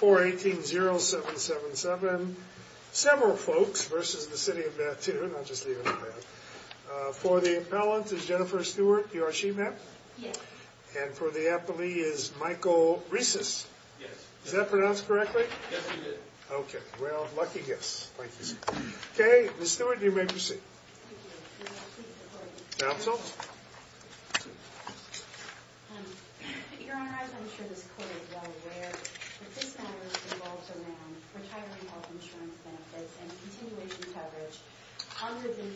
418-0777. Several folks versus the City of Mattoon. I'll just leave it at that. For the appellant is Jennifer Stewart. You are she, ma'am? Yes. And for the appellee is Michael Reeses. Yes. Is that pronounced correctly? Yes, we did. Okay, well, lucky guess. Thank you. Okay, Ms. Stewart, you may proceed. Thank you. Your Honor, as I'm sure this Court is well aware, that this matter revolves around retiring health insurance benefits and continuation coverage under the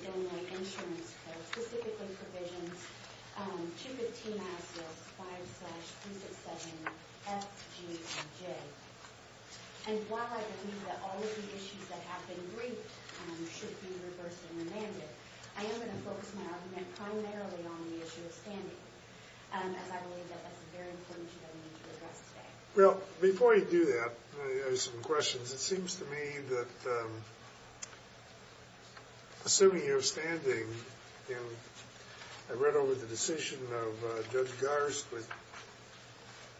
Illinois Insurance Code, specifically provisions 215-5-367-FGJ. And while I believe that all of the I am going to focus my argument primarily on the issue of standing, as I believe that that's a very important issue that we need to address today. Well, before you do that, I have some questions. It seems to me that assuming you're standing, and I read over the decision of Judge Garst with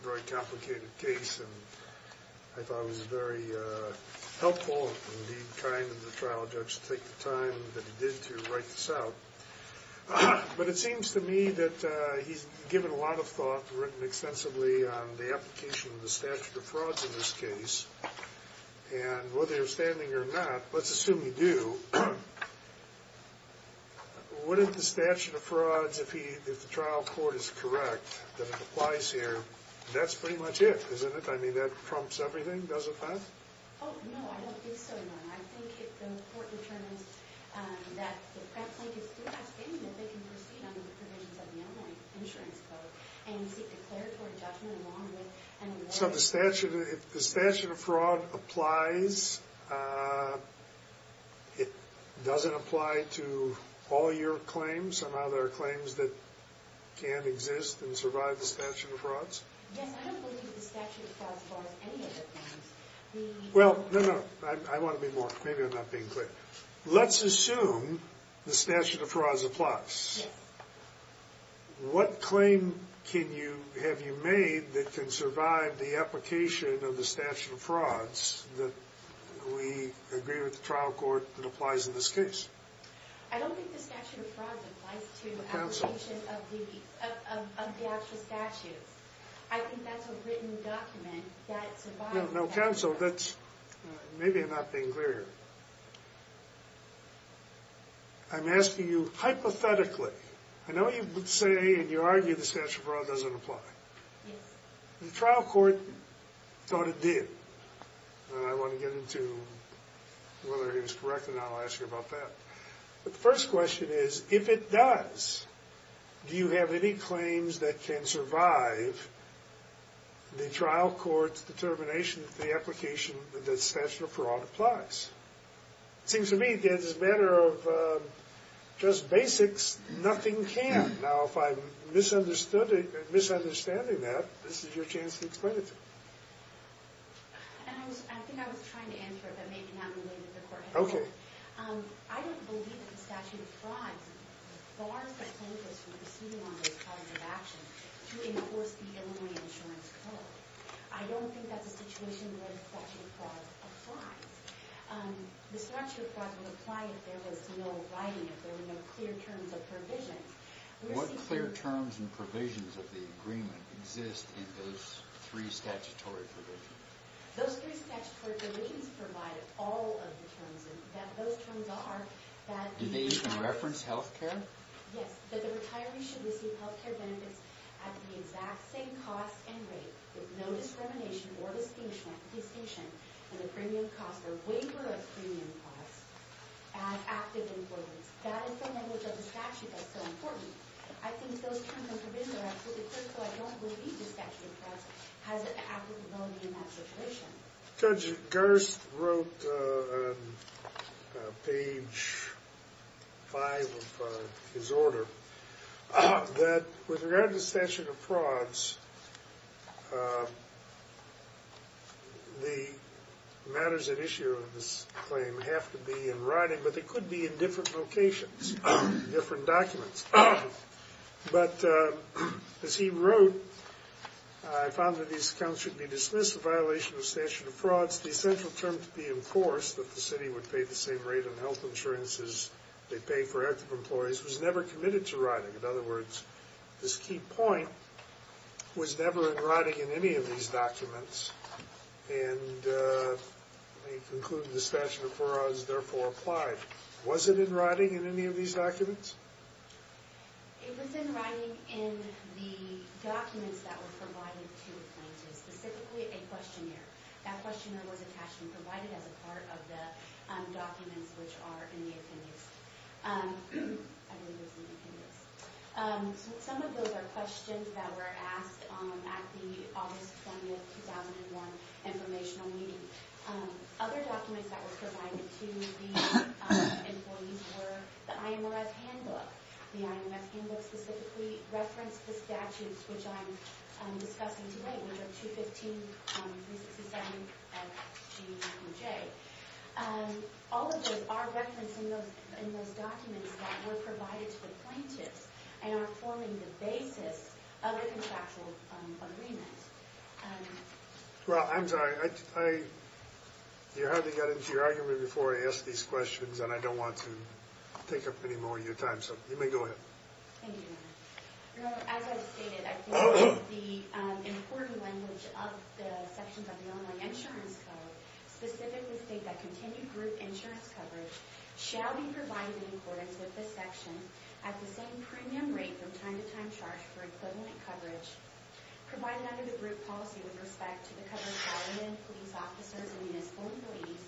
a very complicated case and I thought it was very helpful and indeed kind of the trial judge to take the time that he did to write this out. But it seems to me that he's given a lot of thought, written extensively on the application of the statute of frauds in this case. And whether you're standing or not, let's assume you do, wouldn't the statute of frauds, if the trial court is correct, that it applies here, that's pretty much it, isn't it? I mean, that prompts everything, doesn't that? Oh, no, I don't think so, Your Honor. I think if the court determines that the Pratt plaintiff's doing a standing, that they can proceed under the provisions of the Illinois Insurance Code and seek declaratory judgment along with an award. So the statute of fraud applies. It doesn't apply to all your claims. Somehow there are and survive the statute of frauds? Yes, I don't believe the statute of frauds applies to any of the claims. Well, no, no, I want to be more, maybe I'm not being clear. Let's assume the statute of frauds applies. What claim can you, have you made that can survive the application of the statute of frauds that we agree with the trial court that applies in this case? I don't think the statute of frauds applies to the application of the actual statutes. I think that's a written document that survives. No, counsel, that's, maybe I'm not being clear here. I'm asking you hypothetically. I know you would say and you argue the statute of fraud doesn't apply. The trial court thought it did. I want to get into whether he was correct and I'll ask you about that. The first question is, if it does, do you have any claims that can survive the trial court's determination that the application that the statute of fraud applies? It seems to me it's a matter of just basics. Nothing can. Now if I'm misunderstood, misunderstanding that, this is your chance to explain it to me. And I was, I think I was trying to answer it but maybe not related to court. Okay. I don't believe that the statute of frauds bars the plaintiffs from proceeding on those products of action to enforce the Illinois insurance code. I don't think that's a situation where the statute of fraud applies. The statute of frauds would apply if there was no writing, if there were no clear terms of provisions. What clear terms and provisions of the agreement exist in those three statutory provisions? Those three statutory provisions provide all of the terms and that those terms are that... Do they even reference health care? Yes, that the retiree should receive health care benefits at the exact same cost and rate with no discrimination or distinguishment distinction and a premium cost or waiver of premium costs as active employers. That is the language of the statute that's so important. I think those terms and provisions are absolutely critical. I don't believe the statute of frauds has an applicability in that situation. Judge Gerst wrote on page five of his order that with regard to the statute of frauds, the matters at issue of this claim have to be in writing but they could be in different locations, different documents. But as he wrote, I found that these accounts should be dismissed. The violation of statute of frauds, the essential term to be enforced that the city would pay the same rate on health insurance as they pay for active employees, was never committed to writing. In other words, this key point was never in writing in any of these documents and he concluded the writing in any of these documents. It was in writing in the documents that were provided to the plaintiff, specifically a questionnaire. That questionnaire was attached and provided as a part of the documents which are in the appendix. Some of those are questions that were asked at the August 20, 2001 informational meeting. Other documents that were provided to the employees were the IMRS handbook. The IMRS handbook specifically referenced the statutes which I'm discussing today, which are 215-367-FGWJ. All of those are referenced in those documents that were provided to the plaintiffs and are forming the basis of the contractual agreement. Well, I'm sorry. You're having to get into your argument before I ask these questions and I don't want to take up any more of your time, so you may go ahead. Thank you. As I've stated, I think the important language of the sections of the Illinois Insurance Code specifically state that continued group insurance coverage shall be provided in accordance with this section at the same premium rate from time to time charged for equivalent coverage, provided under the group policy with respect to the coverage of all men, police officers, and uniformed employees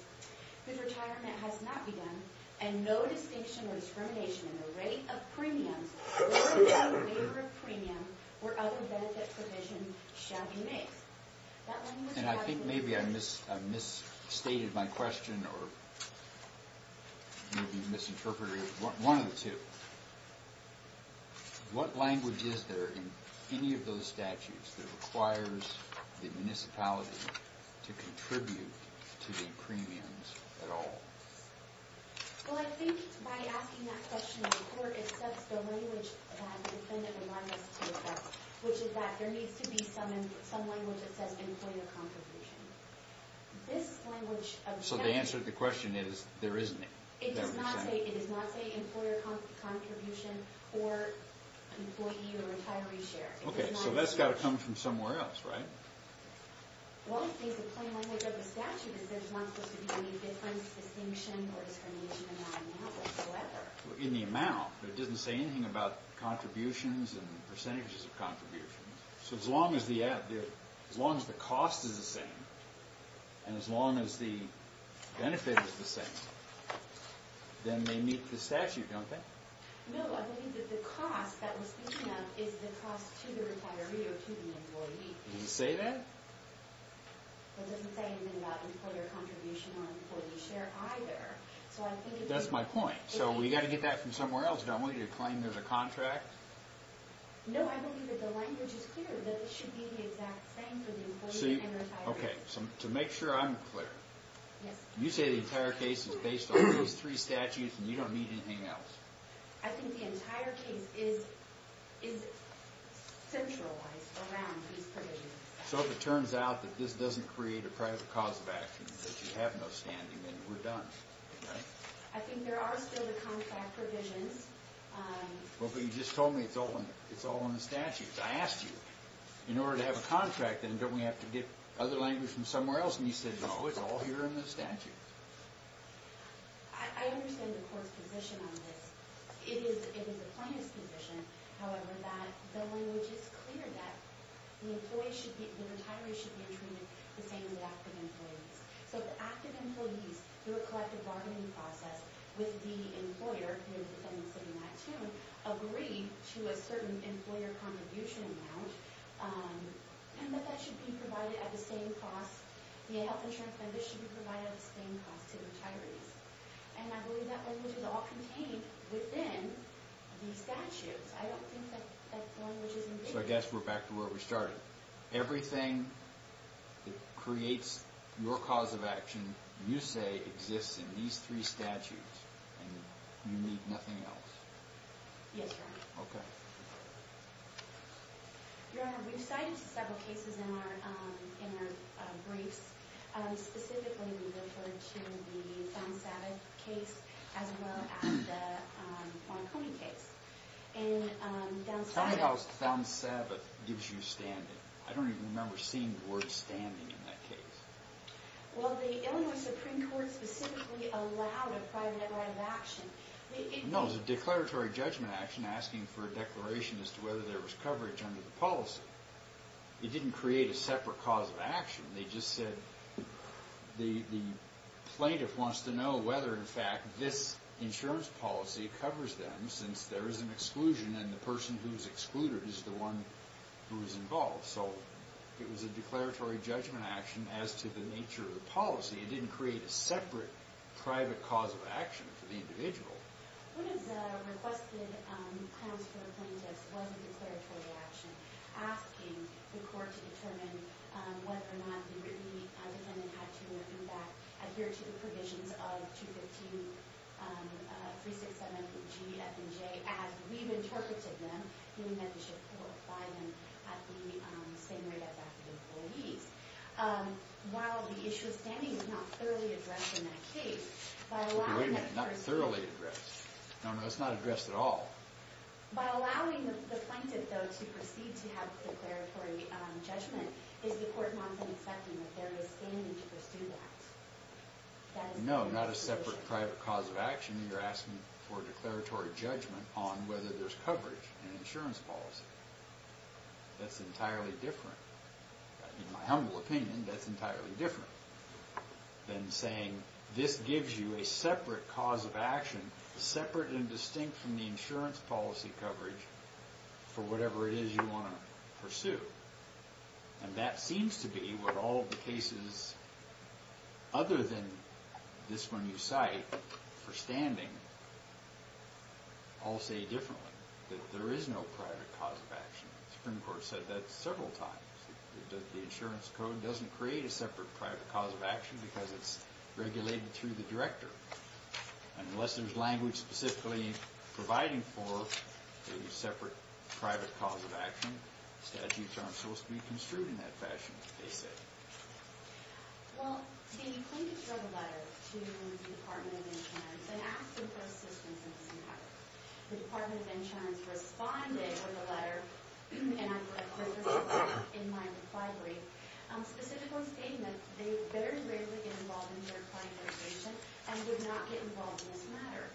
whose retirement has not begun, and no distinction or discrimination in the rate of premiums or in favor of premium or other benefit provision shall be made. I think maybe I misstated my question or maybe misinterpreted one of the two. What language is there in any of those statutes that requires the municipality to contribute to the premiums at all? Well, I think by asking that question in court, it sets the language that the defendant reminds us to accept, which is that there needs to be some language that says employer contribution. This language... So the answer to the question is there isn't it? It does not say employer contribution or employee or retiree share. Okay, so that's got to come from somewhere else, right? Well, I think the point of the statute is there's not supposed to be any difference, distinction, or discrimination in that amount whatsoever. In the amount, but it doesn't say anything about contributions and percentages of contributions. So as long as the cost is the same, and as long as the benefit is the same, then they meet the statute, don't they? No, I believe that the cost that we're speaking of is the cost to the retiree or to the employee. Does it say that? It doesn't say anything about employer contribution or employee share either. That's my point. So we got to get that from somewhere else, don't we, to claim there's a contract? No, I believe that the language is clear that it should be the exact same for the employee and retiree. Okay, so to make sure I'm clear, you say the entire case is based on those three statutes and you don't need anything else? I think the entire case is centralized around these provisions. So if it turns out that this doesn't create a private cause of action, that you have no standing, then we're done, right? I think there are still the contract provisions. Well, but you just told me it's all on the statutes. I asked you, in order to have a contract, then don't we have to get other language from somewhere else? And you said, no, it's all here in the statute. I understand the court's position on this. It is the plaintiff's position, however, that the language is clear that the employee should be, the retiree should be treated the same as the active employees. So the active employees, through a collective bargaining process with the employer, who the defendant's sitting next to, agree to a certain employer contribution amount, and that that should be provided at the same cost, the health insurance plan, this should be provided at the same cost to the retirees. And I believe that language is all contained within these statutes. I don't think that that language is included. So I guess we're back to where we started. Everything that creates your cause of action, you say, exists in these three statutes and you need nothing else? Yes, Your Honor. Okay. Your Honor, we've cited several cases in our briefs. Specifically, we referred to the Fountain Sabbath case, as well as the Boncombe case. In Fountain Sabbath... Tell me how Fountain Sabbath gives you standing. I don't even remember seeing the word standing in that case. Well, the Illinois Supreme Court specifically allowed a private right of action. No, it was a declaratory judgment action asking for a declaration as to whether there was coverage under the policy. It didn't create a separate cause of action. They just said the plaintiff wants to know whether, in fact, this insurance policy covers them, since there is an exclusion and the person who's excluded is the one who is involved. So it was a declaratory judgment action as to the nature of the policy. It didn't create a separate private cause of action for the individual. One of the requested claims for the plaintiff was a declaratory action asking the court to determine whether or not the defendant had to adhere to the provisions of 215-367-GF&J as we've interpreted them in the Membership Court by them at the same rate as active employees. While the issue of standing is not thoroughly addressed in that case... Okay, wait a minute. Not thoroughly addressed? No, no, it's not addressed at all. By allowing the plaintiff, though, to proceed to have declaratory judgment, is the court not then accepting that there is standing to pursue that? No, not a separate private cause of action. You're asking for declaratory judgment on whether there's coverage in insurance policy. That's entirely different. In my humble opinion, that's entirely different than saying this gives you a separate cause of action, separate and distinct from the insurance policy coverage for whatever it is you want to pursue. And that seems to be what all the cases, other than this one you cite for standing, all say differently, that there is no private cause of action. The Supreme Court said that several times. The insurance code doesn't create a separate private cause of action because it's regulated through the director. Unless there's language specifically providing for a separate private cause of action, statutes aren't supposed to be construed in that fashion, they say. Well, the plaintiff wrote a letter to the Department of Insurance and asked them for assistance in this encounter. The Department of Insurance responded with a letter, and I put this in my reply brief, specifically stating that they'd better and greater get involved in their client litigation and did not get involved in this matter.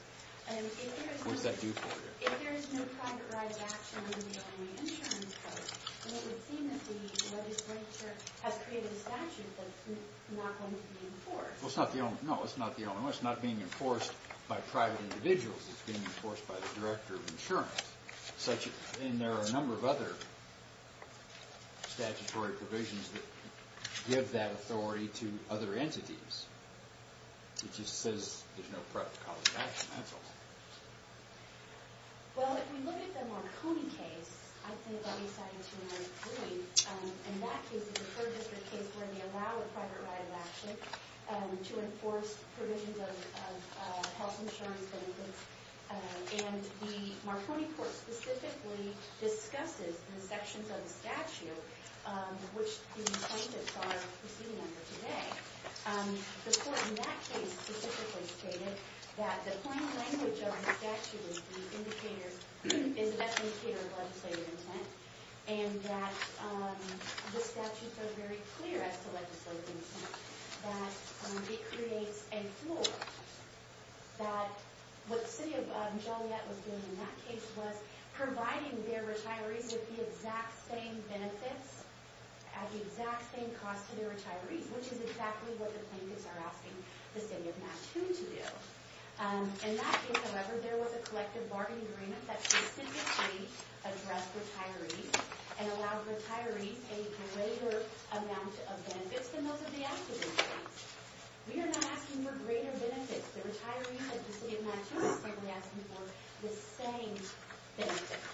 And if there's no private right of action in the insurance code, then it would seem that the legislature has created a statute that's not going to be enforced. Well, it's not the only one. It's not being enforced by private individuals, it's being enforced by the director of insurance. And there are a number of other statutory provisions that give that authority to other entities. It just says there's no private cause of action, that's all. Well, if we look at the Marconi case, I think I'll be cited to another point. In that case, it's a third district case where they allow a private right of action to enforce provisions of health insurance benefits. And the Marconi court specifically discusses the sections of the statute which the plaintiffs are proceeding under today. The court in that case specifically stated that the plain language of the statute is the indicator, is the best indicator of legislative intent, and that the statutes are very clear as to legislative intent, that it creates a floor, that what the city of Joliet was doing in that case was providing their retirees with the exact same benefits at the exact same cost to their clients. That's exactly what the plaintiffs are asking the city of Mattoon to do. In that case, however, there was a collective bargaining agreement that specifically addressed retirees and allowed retirees a greater amount of benefits than most of the actual benefits. We are not asking for greater benefits. The retiree of the city of Mattoon is simply asking for the same benefits.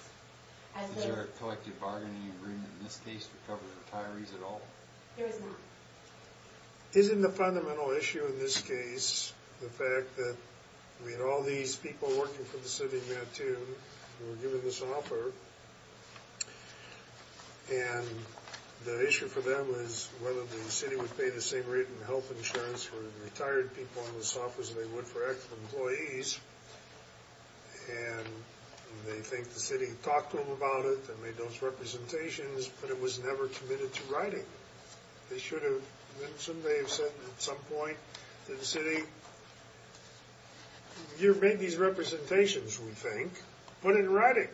Is there a collective bargaining agreement in this case to cover retirees at all? There is not. Isn't the fundamental issue in this case the fact that we had all these people working for the city of Mattoon who were given this offer, and the issue for them was whether the city would pay the same rate in health insurance for retired people in this office as they would for actual employees, and they think the city talked to them about it and made those representations, but it was never committed to writing. They should have mentioned, they have said at some point to the city, you've made these representations, we think, put it in writing.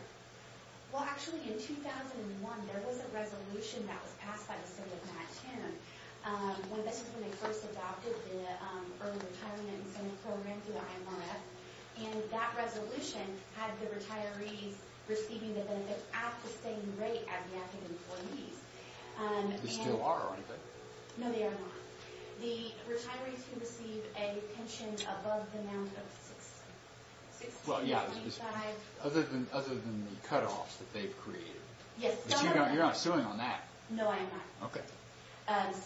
Well, actually, in 2001, there was a resolution that was passed by the city of Mattoon when they first adopted the early retirement incentive program through the IMRF, and that resolution had the retirees receiving the benefits at the same rate as Mattoon employees. They still are, aren't they? No, they are not. The retirees who receive a pension above the amount of $6,000. Well, yeah, other than the cutoffs that they've created. Yes. You're not suing on that. No, I am not. Okay.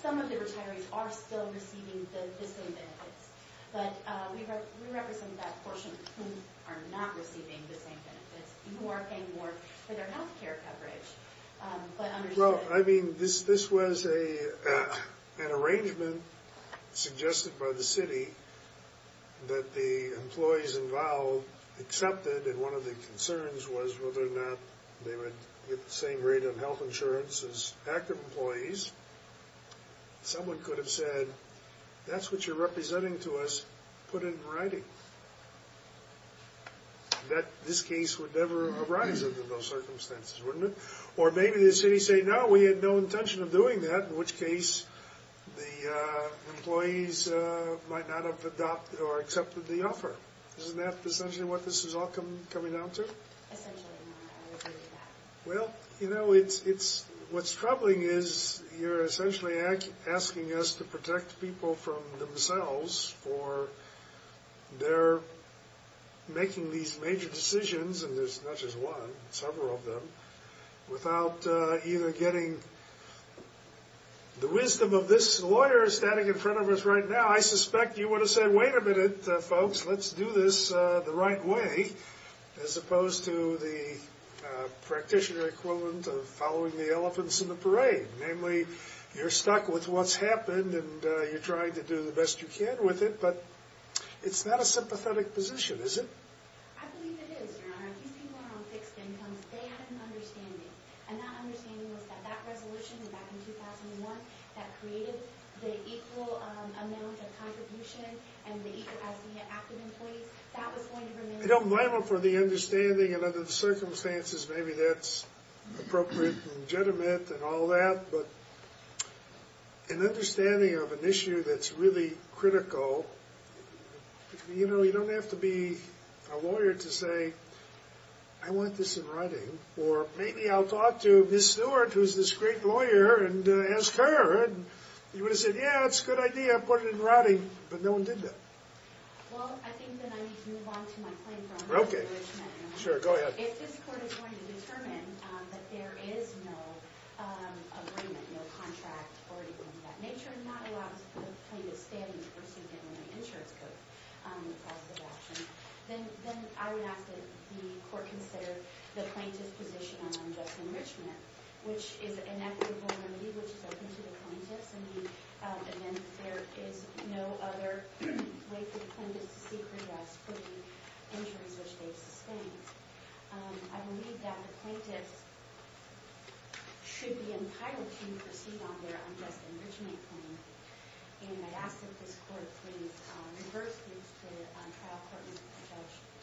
Some of the retirees are still receiving the same benefits, but we represent that portion who are not receiving the same benefits, who are paying more for their health care coverage. Well, I mean, this was an arrangement suggested by the city that the employees involved accepted, and one of the concerns was whether or not they would get the same rate of health insurance as active employees. Someone could have said, that's what you're representing to us, put it in writing. This case would never arise under those circumstances, wouldn't it? Or maybe the city said, no, we had no intention of doing that, in which case the employees might not have adopted or accepted the offer. Isn't that essentially what this is all coming down to? Essentially. Well, you know, what's troubling is you're essentially asking us to protect people from themselves for their making these major decisions, and there's not just one, several of them, without either getting the wisdom of this lawyer standing in front of us right now. I suspect you would have said, wait a minute, folks, let's do this the right way, as opposed to the practitioner equivalent of following the elephants in the haystack with what's happened, and you're trying to do the best you can with it, but it's not a sympathetic position, is it? I believe it is, Your Honor. These people are on fixed incomes. They had an understanding, and that understanding was that that resolution back in 2001 that created the equal amount of contribution and the equal as the active employees, that was going to remain. I don't blame them for the understanding, and under the circumstances, maybe that's appropriate and legitimate and all that, but an understanding of an issue that's really critical, you know, you don't have to be a lawyer to say, I want this in writing, or maybe I'll talk to Ms. Stewart, who's this great lawyer, and ask her, and you would have said, yeah, it's a good idea, put it in writing, but no one did that. Well, I think that I need to move on to my claim for unjust enrichment. Okay, sure, go ahead. If this court is going to determine that there is no agreement, no contract, or anything of that nature, not allowing plaintiffs to stand in the pursuit of an insurance code, then I would ask that the court consider the plaintiff's position on unjust enrichment, which is an equitable remedy, which is open to the plaintiffs, and then there is no other way for the plaintiffs to seek redress for the injuries which they've sustained. I believe that the plaintiffs should be entitled to proceed on their unjust enrichment claim, and I'd ask that this court please reverse the trial court and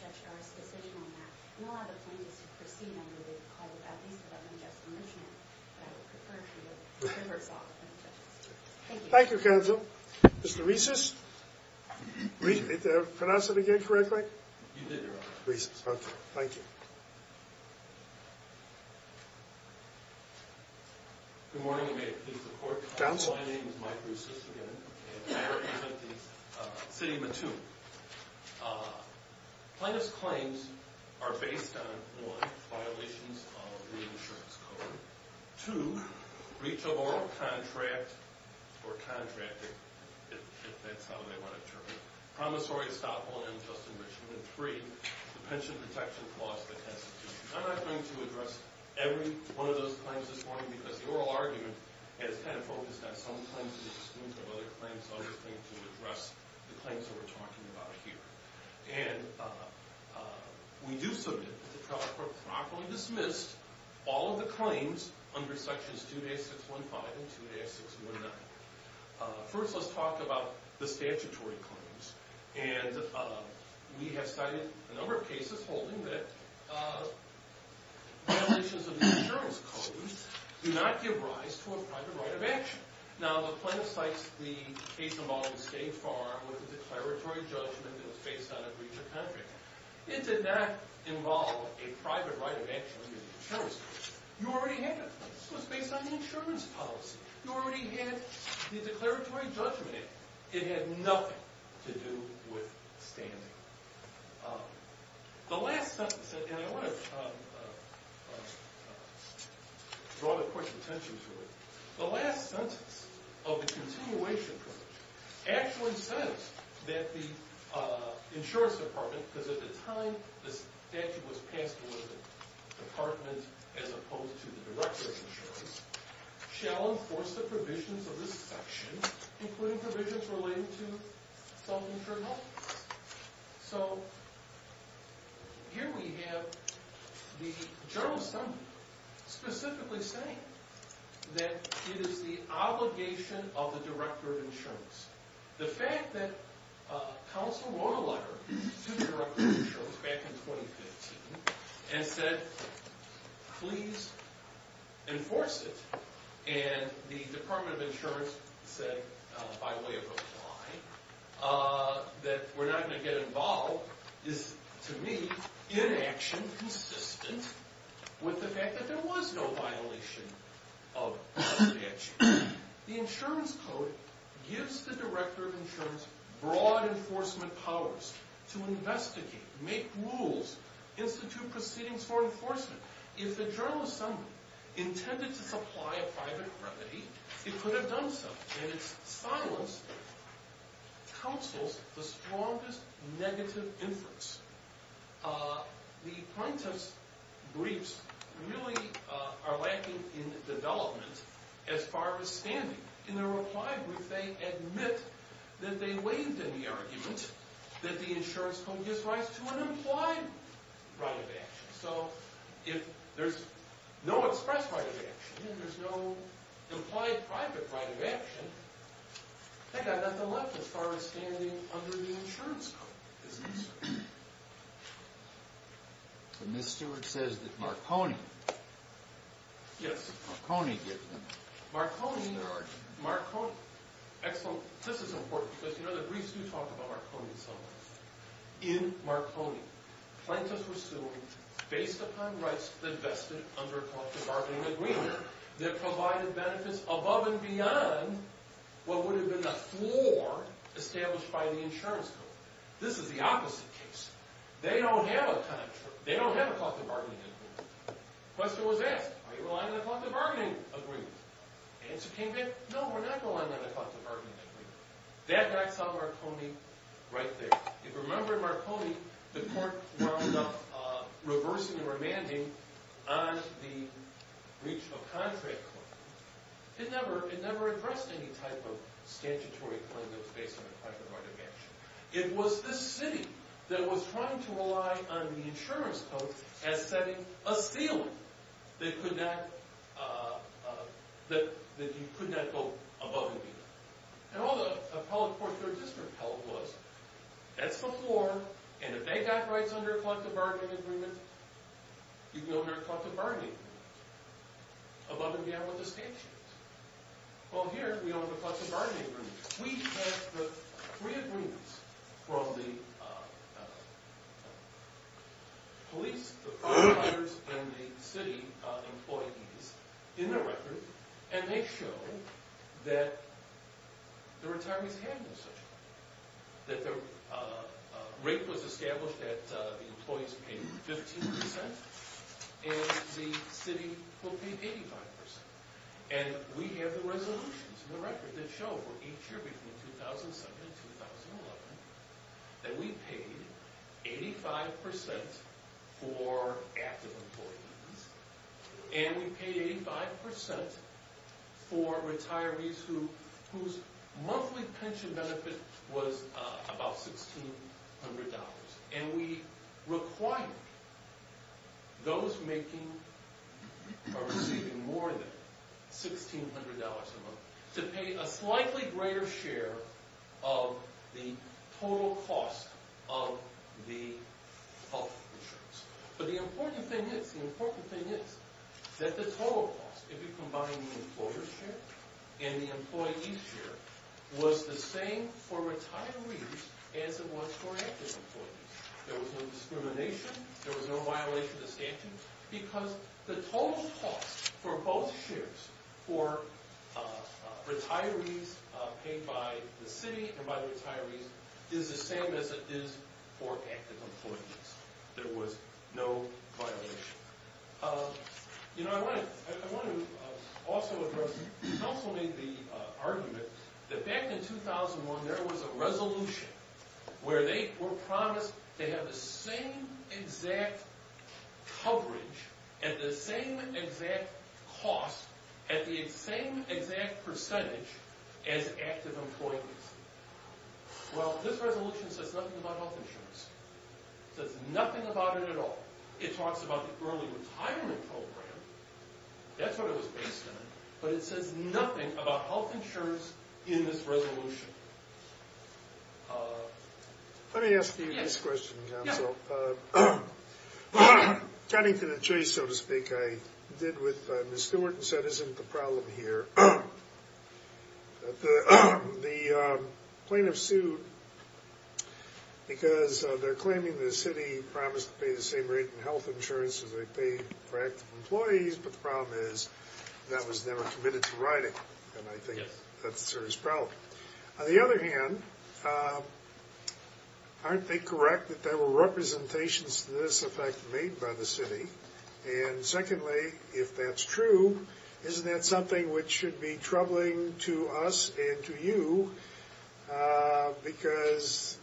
judge Dara's decision on that, and allow the plaintiffs to proceed on what they've called, at least, about unjust enrichment, but I would prefer to reverse all the plaintiffs. Thank you. Thank you, counsel. Mr. Reeses? Did I pronounce that again correctly? You did, Your Honor. Reeses, okay, thank you. Good morning, and may it please the court. My name is Mike Reeses, again, and I represent the city of Mattoon. Plaintiff's claims are based on, one, violations of the insurance code, two, breach of oral contract, or contracting, if that's how they want to term it, promissory estoppel, unjust enrichment, and three, the pension protection clause of the Constitution. I'm not going to address every one of those claims this morning, because the oral argument has kind of focused on some claims, and the extent of other claims, so I'm just going to address the claims that we're talking about here, and we do submit that the trial court properly dismissed all of the claims under sections 2-615 and 2-619. First, let's talk about the statutory claims, and we have cited a number of cases holding that violations of the insurance code do not give rise to a private right of action. Now, the plaintiff cites the case involving a state farm with a declaratory judgment that was faced on a breach of contract. It did not involve a private right of action under the insurance code. You already had it. This was based on the insurance policy. You already had the declaratory judgment. It had nothing to do with standing. The last sentence, and I want to draw the court's attention to it, the last sentence of the continuation privilege actually says that the insurance department, because at the time the statute was passed to the department as opposed to the director of insurance, shall enforce the provisions of this section, including provisions relating to self-insured health insurance. So here we have the general assembly specifically saying that it is the obligation of the director of insurance. The fact that counsel wrote a letter to the director of insurance in 2015 and said, please enforce it, and the department of insurance said by way of reply that we're not going to get involved is, to me, inaction consistent with the fact that there was no violation of the statute. The insurance code gives the director of insurance broad enforcement powers to investigate, make rules, institute proceedings for enforcement. If the general assembly intended to supply a private remedy, it could have done so, and its silence counsels the strongest negative influence. The plaintiff's briefs really are lacking in that the insurance code gives rise to an implied right of action. So if there's no express right of action, there's no implied private right of action, they've got nothing left as far as standing under the insurance code. So Ms. Stewart says that Marconi. Yes. Marconi did. Marconi, Marconi. Excellent. This is important because you know the briefs do talk about Marconi in some ways. In Marconi, plaintiffs were suing based upon rights that vested under a cost of bargaining agreement that provided benefits above and beyond what would have been the floor established by the insurance code. This is the opposite case. They don't have a cost of bargaining agreement. Question was asked, are you relying on a cost of bargaining agreement? Answer came back, no, we're not relying on a cost of bargaining agreement. That backs up Marconi right there. If you remember in Marconi, the court wound up reversing the remanding on the breach of contract claim. It never addressed any type of statutory claim that was based on a private right of action. It was this city that was trying to rely on the insurance code as setting a ceiling that could not, that you could not go above and beyond. And all the appellate courts in our district held was that's before and if they got rights under a cost of bargaining agreement, you'd be under a cost of bargaining agreement above and beyond what the statute is. Well, here we don't have a cost of bargaining agreement. We have the three agreements from the police, the firefighters, and the city employees in the record and they show that the retirees have no such right. That the rate was established that the employees paid 15 percent and the city will pay 85 percent. And we have the resolutions in the record that show for each year between 2007 and 2011 that we paid 85 percent for active employees and we paid 85 percent for retirees whose monthly pension benefit was about $1,600. And we required those making or receiving more than $1,600 a month to pay a slightly greater share of the total cost of the health insurance. But the important thing is, the important thing is that the total cost if you combine the employer's share and the employee's share was the same for retirees as it was for active employees. There was no violation of the statute because the total cost for both shares for retirees paid by the city and by the retirees is the same as it is for active employees. There was no violation. You know, I want to also address, the council made the argument that back in 2001 there was a resolution where they were promised to have the same exact coverage at the same exact cost at the same exact percentage as active employees. Well, this resolution says nothing about health insurance. It says nothing about it at all. It talks about the early retirement program. That's what it was based on. But it says nothing about health insurance in this resolution. Let me ask you this question, council. Tying to the tree, so to speak, I did with Ms. Stewart and said, isn't the problem here the plaintiff sued because they're claiming the city promised to pay the same rate in health insurance as they pay for active employees. But the problem is that was never committed to writing. And I think that's a serious problem. On the other hand, aren't they correct that there were representations to this effect made by the city? And secondly, if that's true, isn't that something which should be troubling to us and to you? Because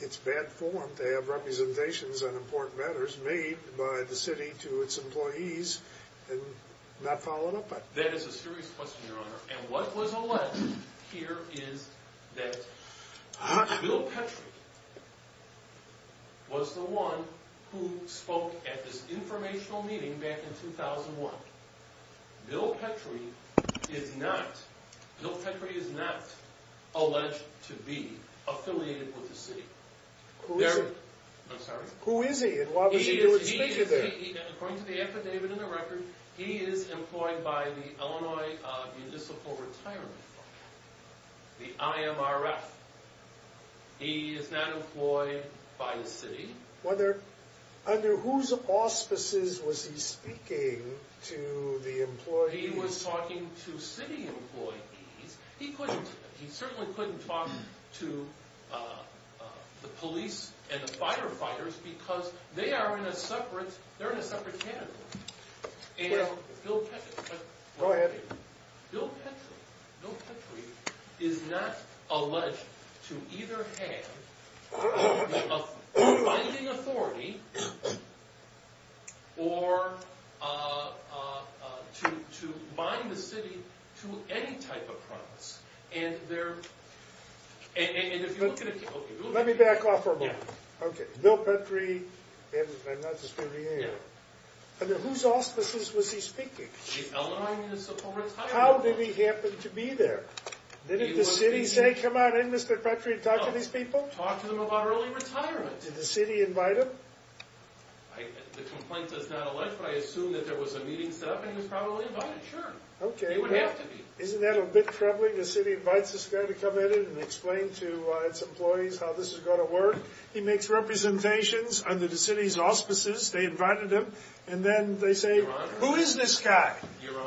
it's bad form to have representations on important matters made by the city to its and what was alleged here is that Bill Petrie was the one who spoke at this informational meeting back in 2001. Bill Petrie is not Bill Petrie is not alleged to be affiliated with the city. Who is it? I'm sorry. Who is he? And why was he there? According to the affidavit in the record, he is employed by the Illinois Municipal Retirement Fund, the IMRF. He is not employed by the city. Whether under whose auspices was he speaking to the employees? He was talking to city employees. He couldn't. He certainly couldn't talk to the police and the firefighters because they are in a separate they're in a separate category. Go ahead. Bill Petrie is not alleged to either have a binding authority or to bind the city to any type of promise. And if you look at it. Let me back off for a moment. Okay. Bill Petrie. Under whose auspices was he speaking? How did he happen to be there? Did the city say come on in Mr. Petrie and talk to these people? Talk to them about early retirement. Did the city invite him? The complaint is not alleged, but I assume that there was a meeting set up and he was probably invited. Sure. Okay. It would have to be. Isn't that a bit troubling? The city invites this guy to come in and explain to its employees how this is going to work. He makes representations under the city's auspices. They invited him. And then they say, who is this guy?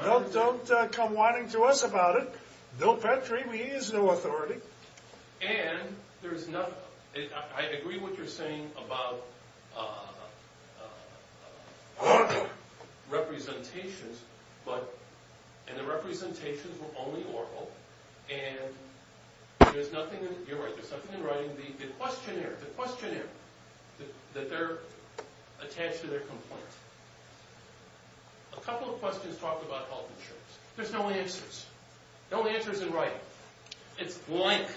Don't come whining to us about it. Bill Petrie, he has no authority. And there is nothing. I agree with what you're saying about representations, but, and the representations were only oral. And there's nothing. You're right. There's something in writing the questionnaire, the questionnaire that they're attached to their complaint. A couple of questions talked about health insurance. There's no answers. No answers in writing. It's blank.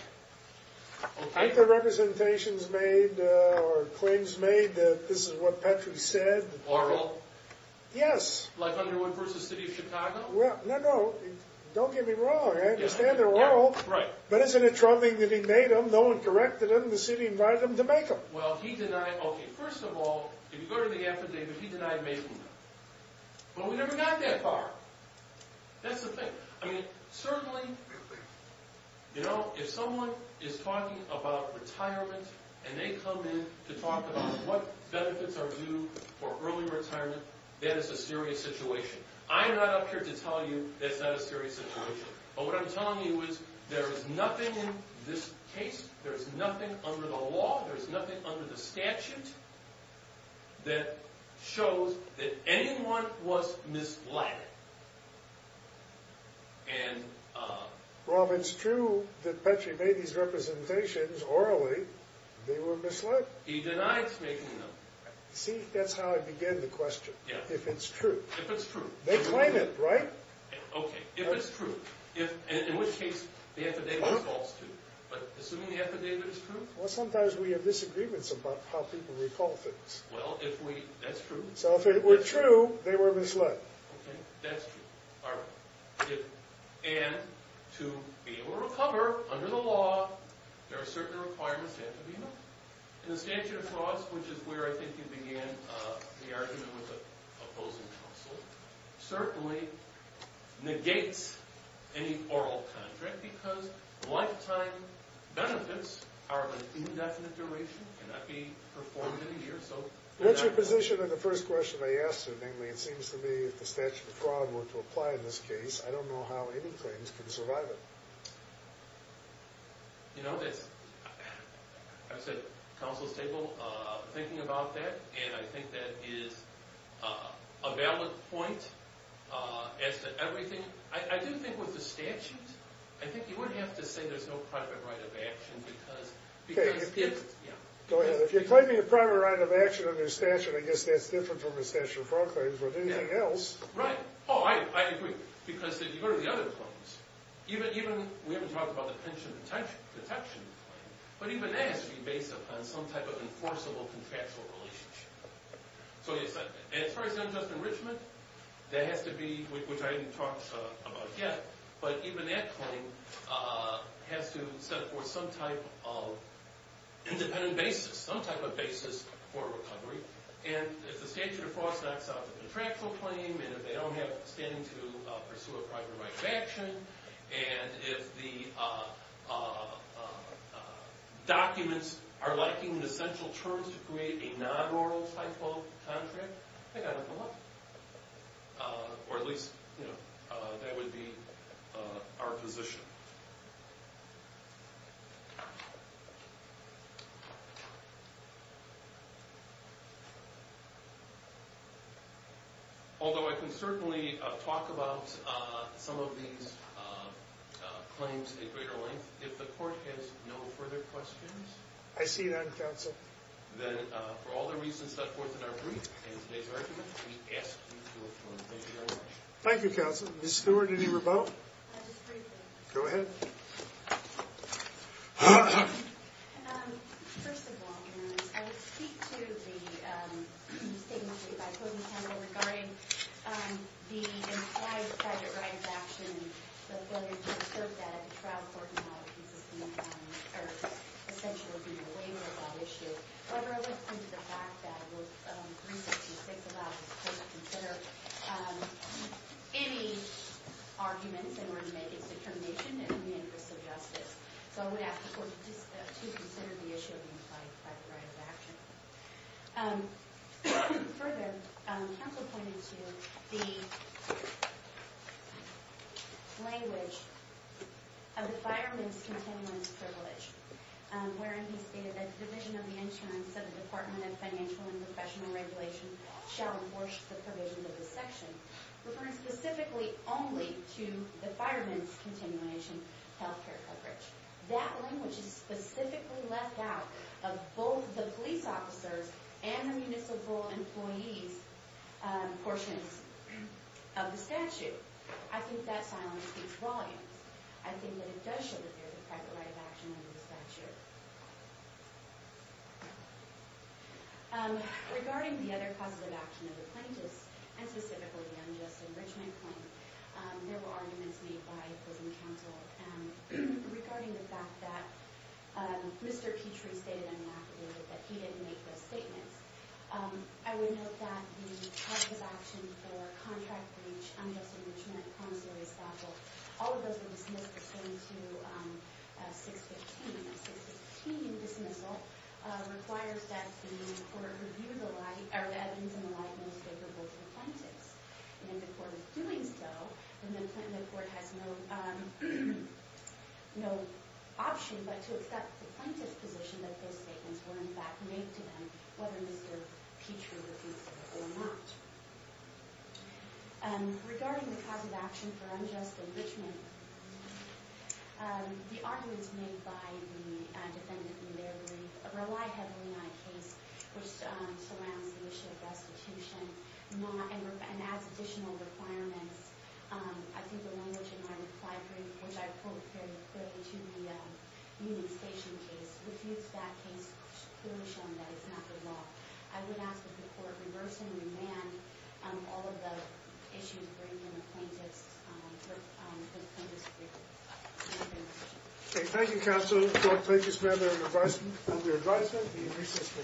I think the representations made or claims made that this is what Petrie said. Oral? Yes. Like Underwood v. City of Chicago? Well, no, no. Don't get me wrong. I understand they're oral. Right. But isn't it troubling that he made them? No one corrected him. The city invited him to make them. Well, he denied. Okay. First of all, if you go to the affidavit, he denied making them. But we never got that far. That's the thing. I mean, certainly, you know, if someone is talking about retirement, and they come in to talk about what benefits are due for early retirement, that is a serious situation. I'm not up here to tell you that's not a serious situation. But what I'm telling you is there is nothing in this case. There's nothing under the law. There's nothing under the statute that shows that anyone was misled. And, Rob, it's true that Petrie made these representations orally. They were misled. He denied making them. See, that's how I began the question. Yeah. If it's true. If it's true. They claim it, right? Okay. If it's true. If, in which case, the affidavit is false, too. But assuming the affidavit is true? Well, sometimes we have disagreements about how people recall things. Well, if we, that's true. So if it were true, they were misled. Okay. That's true. All right. And to be able to recover under the law, there are certain requirements that have to be met. And the statute of clause, which is where I think you began the argument with the opposing counsel, certainly negates any oral contract, because lifetime benefits are of an indefinite duration, cannot be performed in a year. So what's your position on the first question they asked, and namely, it seems to me, if the statute of clause were to apply in this case, I don't know how any claims can survive it. You know, that's, I've said, counsel's table, thinking about that, and I think that is a valid point as to everything. I do think with the statute, I think you would have to say there's no private right of action because, because, yeah. Go ahead. If you're claiming a private right of action under statute, I guess that's different from the statute of proclaims with anything else. Right. Oh, I agree. Because if you go to the other claims, even, we haven't talked about the pension protection claim, but even that has to be based upon some type of enforceable contractual relationship. So, as far as unjust enrichment, that has to be, which I didn't talk about yet, but even that claim has to set forth some type of independent basis. Some type of basis for recovery, and if the statute of clause knocks out the contractual claim, and if they don't have standing to pursue a private right of action, and if the documents are lacking the essential terms to create a non-oral type of contract, they've got to come up. Or at least, you know, that would be our position. Although, I can certainly talk about some of these claims at greater length, if the court has no further questions. I see that, counsel. Then, for all the reasons set forth in our brief and today's argument, we ask you to speak to the statement made by Closing Counsel regarding the implied private right of action, and whether you can assert that at the trial court, and how it is essentially a waiver of that issue. However, I would point to the fact that what the research speaks about is to consider any arguments in order to make its determination in the interest of justice. So, I would ask the court to consider the issue of the implied private right of action. Further, counsel pointed to the language of the fireman's continuance privilege, wherein he stated that the division of the insurance of the Department of Financial and Professional Regulation shall enforce the provisions of the That language is specifically left out of both the police officers and the municipal employees' portions of the statute. I think that silence speaks volumes. I think that it does show that there is a private right of action under the statute. Regarding the other causes of action of the plaintiffs, and specifically the unjust enrichment claim, there were arguments made by Closing Counsel regarding the fact that Mr. Petrie stated in an affidavit that he didn't make those statements. I would note that the causes of action for contract breach, unjust enrichment, promissory staffle, all of those were dismissed according to 615. The 615 dismissal requires that the court review the evidence in the light most capable to the plaintiffs. If the court is doing so, then the court has no option but to accept the plaintiff's position that those statements were in fact made to them, whether Mr. Petrie refused them or not. Regarding the causes of action for unjust enrichment, the arguments made by the defendant in their brief rely heavily on a case which surrounds the issue of restitution and adds additional requirements. I think the language in my reply brief, which I quote very clearly to the union station case, refutes that case, clearly showing that it's not the law. I would ask that the court reverse and remand all of the issues in the plaintiffs' brief. Okay, thank you counsel, court, plaintiffs' member, and your adviser.